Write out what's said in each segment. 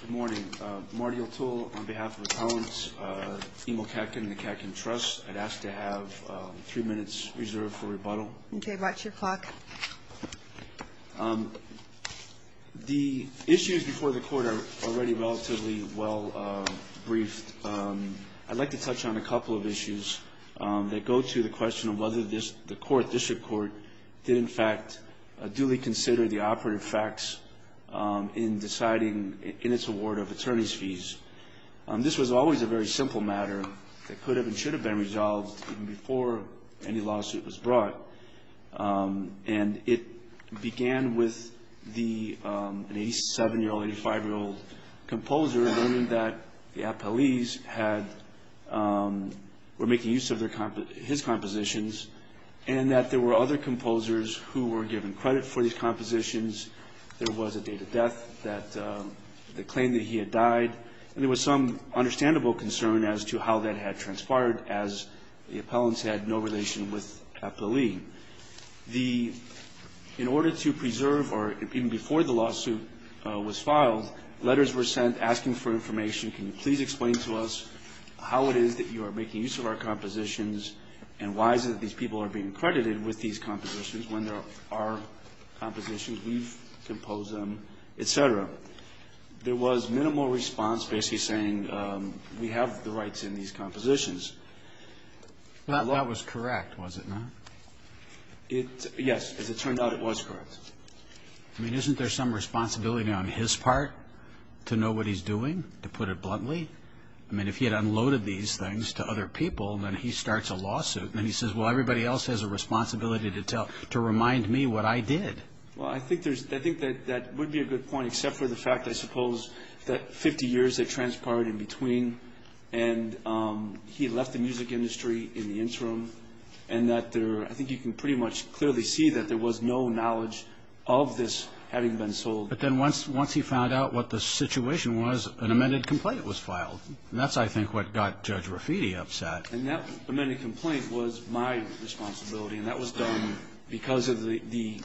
Good morning. Marty O'Toole on behalf of Appellants Emil Katkin and the Katkin Trust. I'd ask to have three minutes reserved for rebuttal. Okay, watch your clock. The issues before the court are already relatively well briefed. I'd like to touch on a couple of issues that go to the question of whether the court, district court, did in fact duly consider the operative facts in deciding in its award of attorney's fees. This was always a very simple matter that could have and should have been resolved even before any lawsuit was brought. And it began with an 87-year-old, 85-year-old composer learning that the appellees were making use of his compositions and that there were other composers who were given credit for these compositions. There was a date of death that claimed that he had died. And there was some understandable concern as to how that had transpired, as the appellants had no relation with Appellee. In order to preserve, or even before the lawsuit was filed, letters were sent asking for information. Can you please explain to us how it is that you are making use of our compositions and why is it that these people are being credited with these compositions when they're our compositions? We've composed them, et cetera. There was minimal response basically saying we have the rights in these compositions. That was correct, was it not? Yes. As it turned out, it was correct. I mean, isn't there some responsibility on his part to know what he's doing, to put it bluntly? I mean, if he had unloaded these things to other people, then he starts a lawsuit and he says, well, everybody else has a responsibility to remind me what I did. Well, I think that would be a good point, except for the fact, I suppose, that 50 years had transpired in between and that there, I think you can pretty much clearly see that there was no knowledge of this having been sold. But then once he found out what the situation was, an amended complaint was filed. And that's, I think, what got Judge Rafiti upset. And that amended complaint was my responsibility, and that was done because of the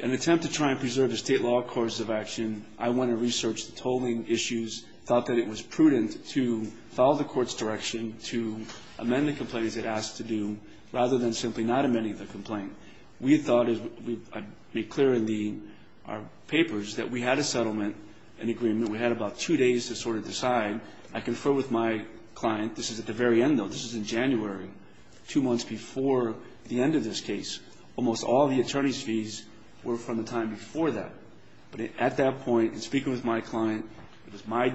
attempt to try and preserve the State law course of action. I went and researched the tolling issues, thought that it was prudent to follow the Court's direction to amend the complaint as it asked to do, rather than simply not amending the complaint. We thought, as I made clear in our papers, that we had a settlement, an agreement. We had about two days to sort of decide. I confer with my client. This is at the very end, though. This is in January, two months before the end of this case. Almost all of the attorney's fees were from the time before that. But at that point, in speaking with my client, it was my,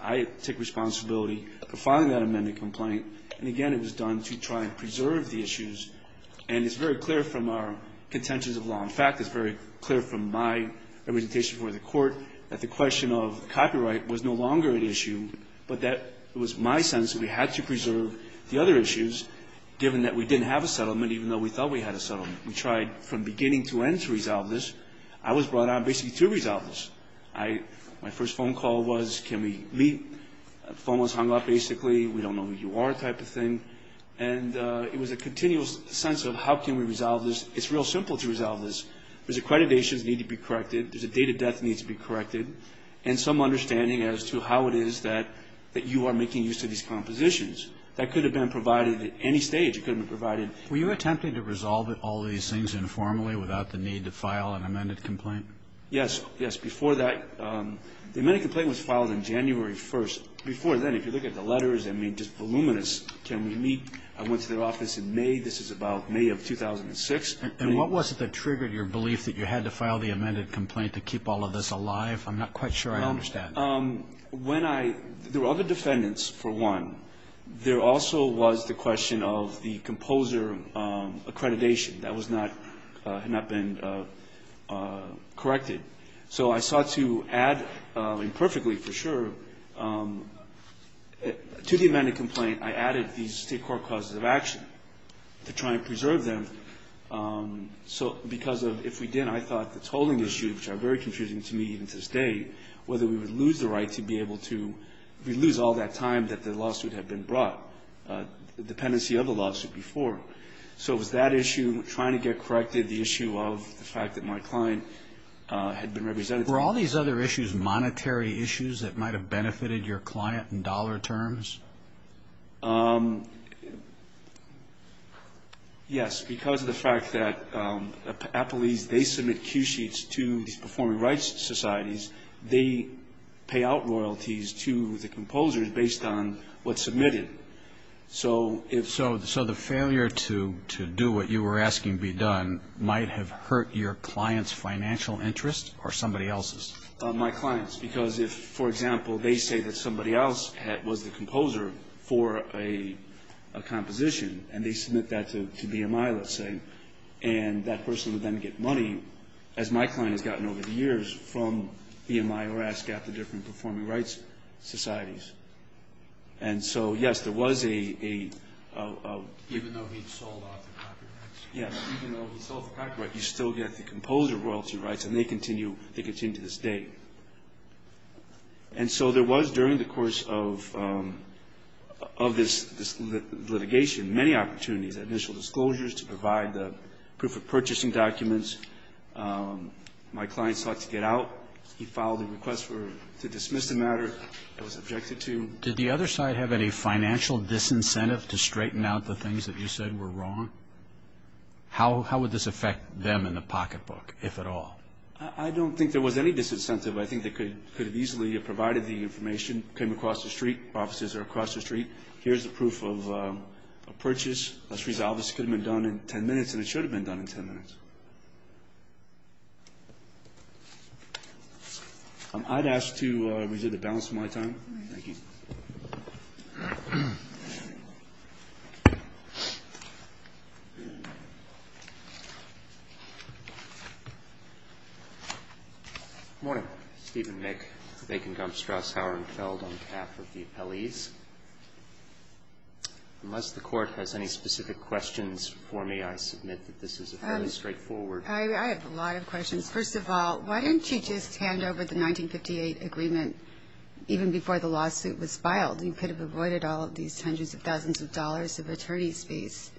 I take responsibility for filing that amended complaint. And, again, it was done to try and preserve the issues. And it's very clear from our contentions of law. In fact, it's very clear from my representation before the Court that the question of copyright was no longer an issue, but that it was my sense that we had to preserve the other issues, given that we didn't have a settlement, even though we thought we had a settlement. We tried from beginning to end to resolve this. I was brought on basically to resolve this. My first phone call was, can we meet? The phone was hung up, basically. We don't know who you are type of thing. And it was a continuous sense of how can we resolve this. It's real simple to resolve this. There's accreditations that need to be corrected. There's a date of death that needs to be corrected. And some understanding as to how it is that you are making use of these compositions. That could have been provided at any stage. It could have been provided. Were you attempting to resolve all these things informally without the need to file an amended complaint? Yes, yes. Before that, the amended complaint was filed on January 1st. Before then, if you look at the letters, I mean, just voluminous. Can we meet? I went to their office in May. This is about May of 2006. And what was it that triggered your belief that you had to file the amended complaint to keep all of this alive? I'm not quite sure I understand. When I – there were other defendants, for one. There also was the question of the composer accreditation. That was not – had not been corrected. So I sought to add, imperfectly for sure, to the amended complaint, I added these state court causes of action to try and preserve them. So because of – if we didn't, I thought the tolling issue, which are very confusing to me even to this day, whether we would lose the right to be able to – if we lose all that time that the lawsuit had been brought, the dependency of the lawsuit before. So it was that issue, trying to get corrected, the issue of the fact that my client had been represented. Were all these other issues monetary issues that might have benefited your client in dollar terms? Yes. Because of the fact that Applees, they submit cue sheets to these performing rights societies, they pay out royalties to the composers based on what's submitted. So if – So the failure to do what you were asking be done might have hurt your client's financial interest or somebody else's? My clients. Because if, for example, they say that somebody else was the composer for a composition and they submit that to BMI, let's say, and that person would then get money, as my client has gotten over the years, from BMI or ASCAP, the different performing rights societies. And so, yes, there was a – Even though he'd sold off the copyrights? Yes. Even though he sold the copyright, you still get the composer royalty rights, and they continue to this day. And so there was, during the course of this litigation, many opportunities, initial disclosures to provide the proof of purchasing documents. My client sought to get out. He filed a request to dismiss the matter. He was objected to. Did the other side have any financial disincentive to straighten out the things that you said were wrong? How would this affect them in the pocketbook, if at all? I don't think there was any disincentive. I think they could have easily provided the information, came across the street, officers are across the street, here's the proof of purchase, let's resolve this. It could have been done in 10 minutes, and it should have been done in 10 minutes. I'd ask to reserve the balance of my time. Thank you. Good morning. Stephen Mick, Bacon, Gump, Strauss, Hauer, and Feld on behalf of the appellees. Unless the Court has any specific questions for me, I submit that this is a fairly straightforward I have a lot of questions. First of all, why didn't you just hand over the 1958 agreement even before the lawsuit was filed? You could have avoided all of these hundreds of thousands of dollars of attorney's fees.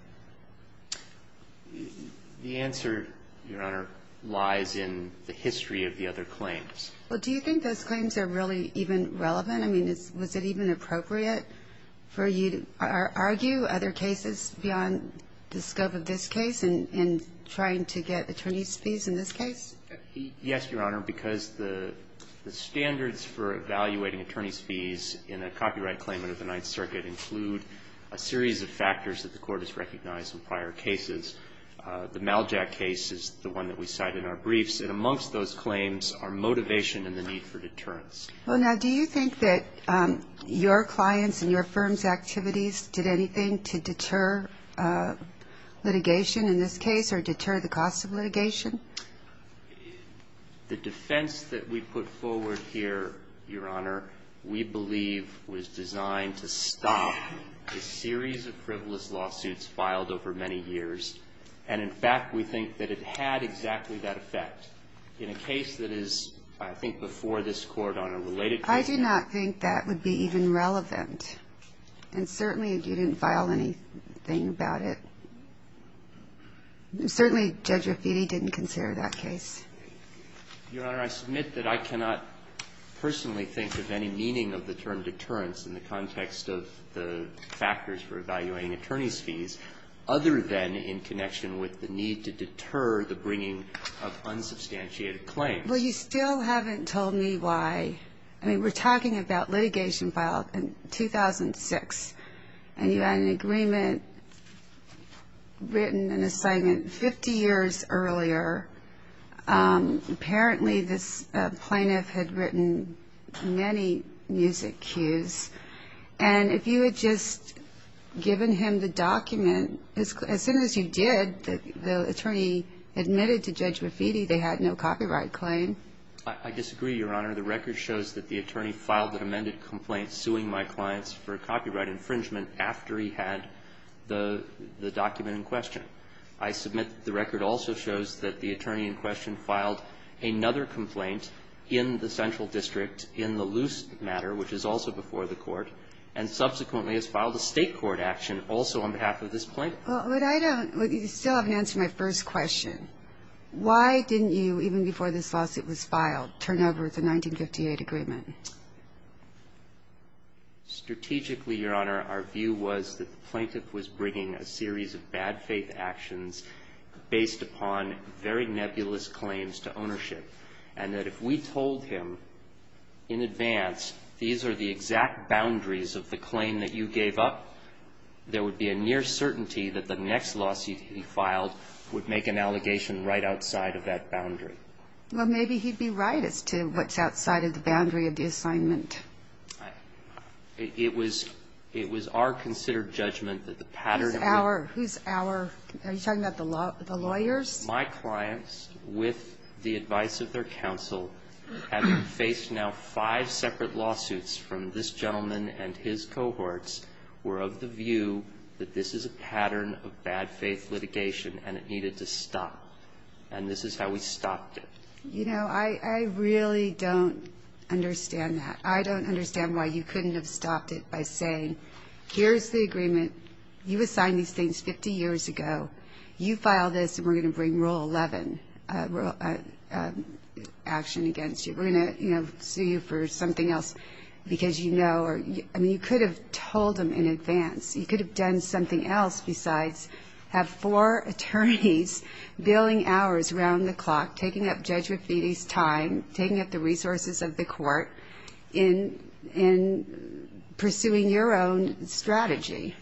The answer, Your Honor, lies in the history of the other claims. Well, do you think those claims are really even relevant? I mean, was it even appropriate for you to argue other cases beyond the scope of this case in trying to get attorney's fees in this case? Yes, Your Honor, because the standards for evaluating attorney's fees in a copyright claim under the Ninth Circuit include a series of factors that the Court has recognized in prior cases. The Maljack case is the one that we cite in our briefs, and amongst those claims are motivation and the need for deterrence. Well, now, do you think that your clients' and your firm's activities did anything to deter litigation in this case or deter the cost of litigation? The defense that we put forward here, Your Honor, we believe was designed to stop a series of frivolous lawsuits filed over many years. And, in fact, we think that it had exactly that effect. In a case that is, I think, before this Court on a related case. I do not think that would be even relevant. And certainly, you didn't file anything about it. Certainly, Judge Raffitti didn't consider that case. Your Honor, I submit that I cannot personally think of any meaning of the term deterrence in the context of the factors for evaluating attorney's fees, other than in connection with the need to deter the bringing of unsubstantiated claims. Well, you still haven't told me why. I mean, we're talking about litigation filed in 2006. And you had an agreement written and a statement 50 years earlier. Apparently, this plaintiff had written many music cues. And if you had just given him the document, as soon as you did, the attorney admitted to Judge Raffitti they had no copyright claim. I disagree, Your Honor. The record shows that the attorney filed an amended complaint suing my clients for copyright infringement after he had the document in question. I submit the record also shows that the attorney in question filed another complaint in the central district in the loose matter, which is also before the Court, and subsequently has filed a State court action also on behalf of this plaintiff. Well, but I don't – you still haven't answered my first question. Why didn't you, even before this lawsuit was filed, turn over the 1958 agreement? Strategically, Your Honor, our view was that the plaintiff was bringing a series of bad faith actions based upon very nebulous claims to ownership, and that if we told him in advance these are the exact boundaries of the claim that you gave up, there would be a near certainty that the next lawsuit he filed would make an allegation right outside of that boundary. Well, maybe he'd be right as to what's outside of the boundary of the assignment. It was – it was our considered judgment that the pattern of the – Whose our? Whose our? Are you talking about the lawyers? My clients, with the advice of their counsel, having faced now five separate lawsuits from this gentleman and his cohorts, were of the view that this is a pattern of bad faith litigation, and it needed to stop. And this is how we stopped it. You know, I really don't understand that. I don't understand why you couldn't have stopped it by saying, here's the agreement. You assigned these things 50 years ago. You file this, and we're going to bring Rule 11 action against you. We're going to, you know, sue you for something else because you know or – I mean, you could have told him in advance. You could have done something else besides have four attorneys billing hours around the clock, taking up Judge Rafiti's time, taking up the resources of the court in pursuing your own strategy.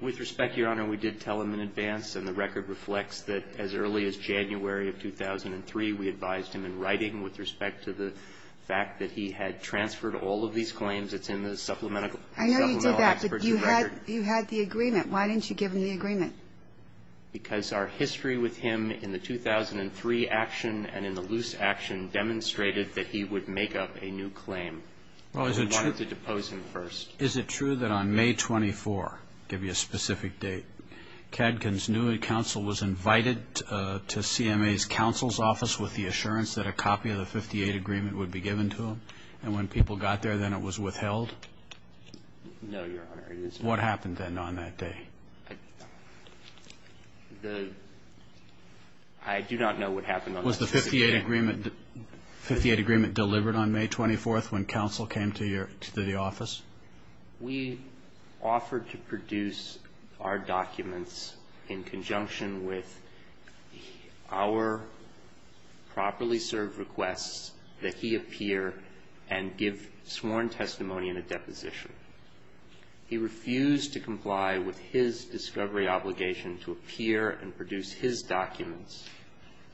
With respect, Your Honor, we did tell him in advance, and the record reflects that as early as January of 2003, we advised him in writing with respect to the fact that he had transferred all of these claims. It's in the supplemental experts' record. You had the agreement. Why didn't you give him the agreement? Because our history with him in the 2003 action and in the loose action demonstrated that he would make up a new claim. We wanted to depose him first. Is it true that on May 24 – I'll give you a specific date – Kadkin's new counsel was invited to CMA's counsel's office with the assurance that a copy of the 58 agreement would be given to him? And when people got there, then it was withheld? No, Your Honor. What happened then on that day? The – I do not know what happened on that specific day. Was the 58 agreement delivered on May 24th when counsel came to your – to the office? We offered to produce our documents in conjunction with our properly served requests that he appear and give sworn testimony and a deposition. He refused to comply with his discovery obligation to appear and produce his documents.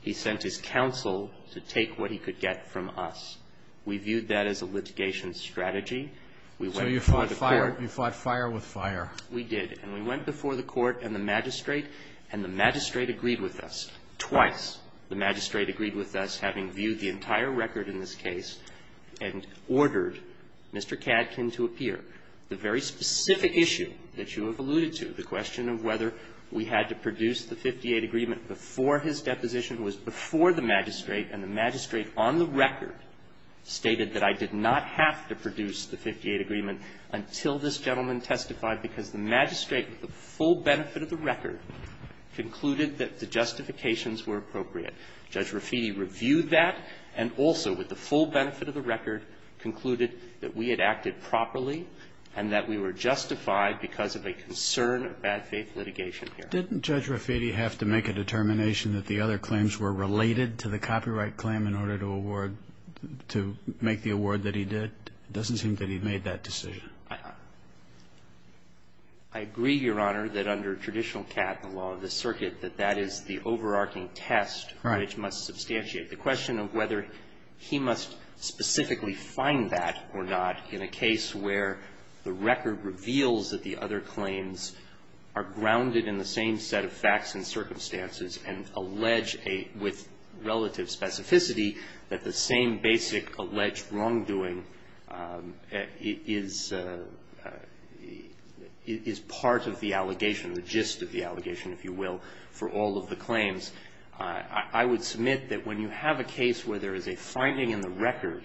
He sent his counsel to take what he could get from us. We viewed that as a litigation strategy. We went before the court. So you fought fire with fire. We did. And we went before the court and the magistrate, and the magistrate agreed with us. Twice the magistrate agreed with us, having viewed the entire record in this case, and ordered Mr. Cadkin to appear. The very specific issue that you have alluded to, the question of whether we had to produce the 58 agreement before his deposition was before the magistrate, and the magistrate on the record stated that I did not have to produce the 58 agreement until this gentleman testified, because the magistrate, with the full benefit of the record, concluded that the justifications were appropriate. Judge Raffitti reviewed that and also, with the full benefit of the record, concluded that we had acted properly and that we were justified because of a concern of bad faith litigation here. Didn't Judge Raffitti have to make a determination that the other claims were related to the copyright claim in order to award, to make the award that he did? It doesn't seem that he made that decision. I agree, Your Honor, that under traditional cat and law of the circuit, that that is the overarching test. Right. It must substantiate the question of whether he must specifically find that or not in a case where the record reveals that the other claims are grounded in the same set of facts and circumstances and allege with relative specificity that the same basic alleged wrongdoing is part of the allegation, the gist of the allegation, if you will, for all of the claims. I would submit that when you have a case where there is a finding in the record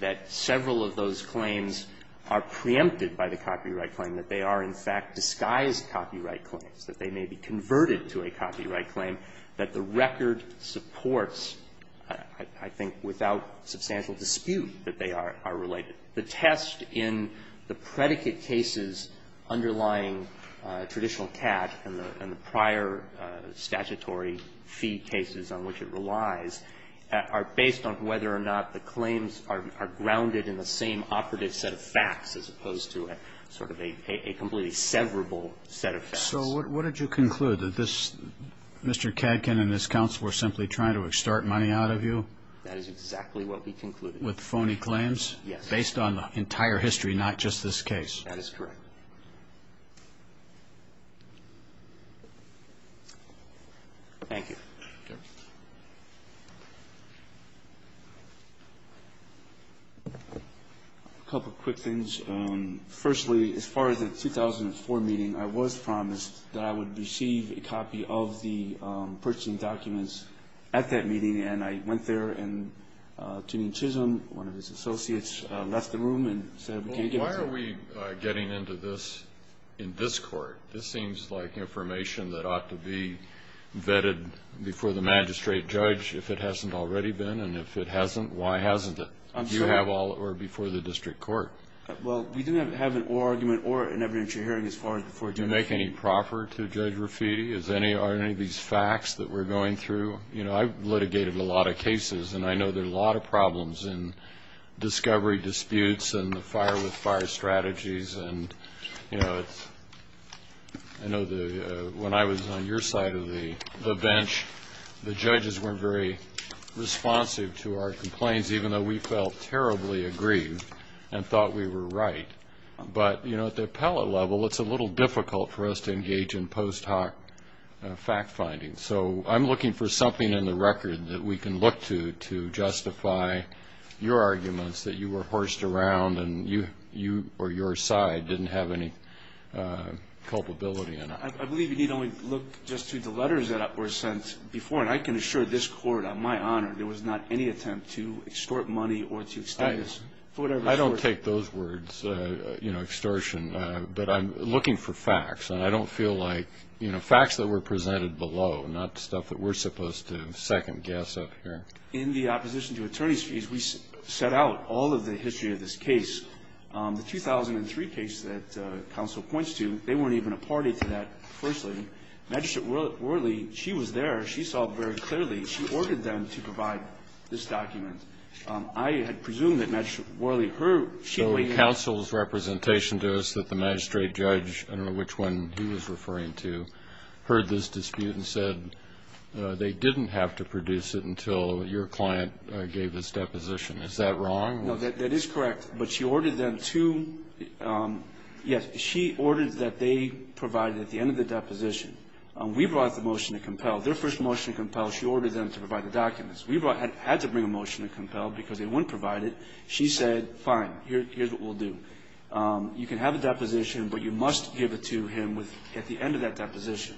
that several of those claims are preempted by the copyright claim, that they are, in fact, disguised copyright claims, that they may be converted to a copyright claim, that the record supports, I think without substantial dispute, that they are related. The test in the predicate cases underlying traditional cat and the prior statutory fee cases on which it relies are based on whether or not the claims are grounded in the same operative set of facts as opposed to a sort of a completely severable set of facts. So what did you conclude? That this Mr. Katkin and his counsel were simply trying to extort money out of you? That is exactly what we concluded. With phony claims? Yes. Based on entire history, not just this case? That is correct. Thank you. A couple of quick things. Firstly, as far as the 2004 meeting, I was promised that I would receive a copy of the purchasing documents at that meeting, and I went there, and Tuneem Chisholm, one of his associates, left the room and said, can you give it to me? Well, why are we getting into this in this Court? This seems like information that ought to be vetted before the magistrate judge if it hasn't already been, and if it hasn't, why hasn't it? I'm sorry? You have all of it before the district court. Well, we didn't have an oral argument or an evidentiary hearing as far as before the district court. Do you make any proffer to Judge Raffiti? Are any of these facts that we're going through? I've litigated a lot of cases, and I know there are a lot of problems in discovery disputes and the fire-with-fire strategies. I know when I was on your side of the bench, the judges weren't very responsive to our complaints, even though we felt terribly aggrieved and thought we were right. But at the appellate level, it's a little difficult for us to engage in post-hoc fact-finding. So I'm looking for something in the record that we can look to to justify your arguments that you were horsed around and you or your side didn't have any culpability in it. I believe you need only look just to the letters that were sent before, and I can assure this Court, on my honor, there was not any attempt to extort money or to extort us. I don't take those words, extortion, but I'm looking for facts, and I don't feel like, you know, facts that were presented below, not stuff that we're supposed to second-guess up here. In the opposition to attorney's fees, we set out all of the history of this case. The 2003 case that counsel points to, they weren't even a party to that, firstly. Magistrate Worley, she was there. She saw very clearly. She ordered them to provide this document. I had presumed that Magistrate Worley, her, she waited. The counsel's representation to us that the magistrate judge, I don't know which one he was referring to, heard this dispute and said they didn't have to produce it until your client gave his deposition. Is that wrong? No, that is correct. But she ordered them to, yes, she ordered that they provide at the end of the deposition. We brought the motion to compel. Their first motion to compel, she ordered them to provide the documents. We had to bring a motion to compel because they wouldn't provide it. She said, fine, here's what we'll do. You can have a deposition, but you must give it to him at the end of that deposition.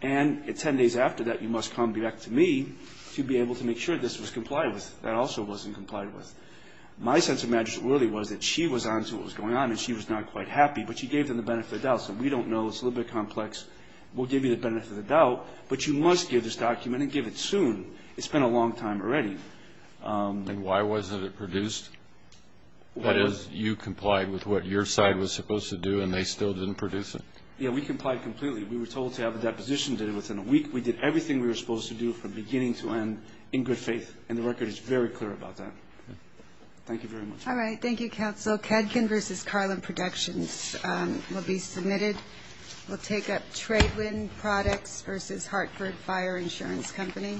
And 10 days after that, you must come back to me to be able to make sure this was complied with. That also wasn't complied with. My sense of Magistrate Worley was that she was on to what was going on and she was not quite happy, but she gave them the benefit of the doubt. So we don't know. It's a little bit complex. We'll give you the benefit of the doubt, but you must give this document and give it soon. It's been a long time already. And why wasn't it produced? That is, you complied with what your side was supposed to do and they still didn't produce it? Yeah, we complied completely. We were told to have a deposition within a week. We did everything we were supposed to do from beginning to end in good faith, and the record is very clear about that. Thank you very much. All right. Thank you, Counsel. Kedkin v. Carlin Productions will be submitted. We'll take up Tradewind Products v. Hartford Fire Insurance Company.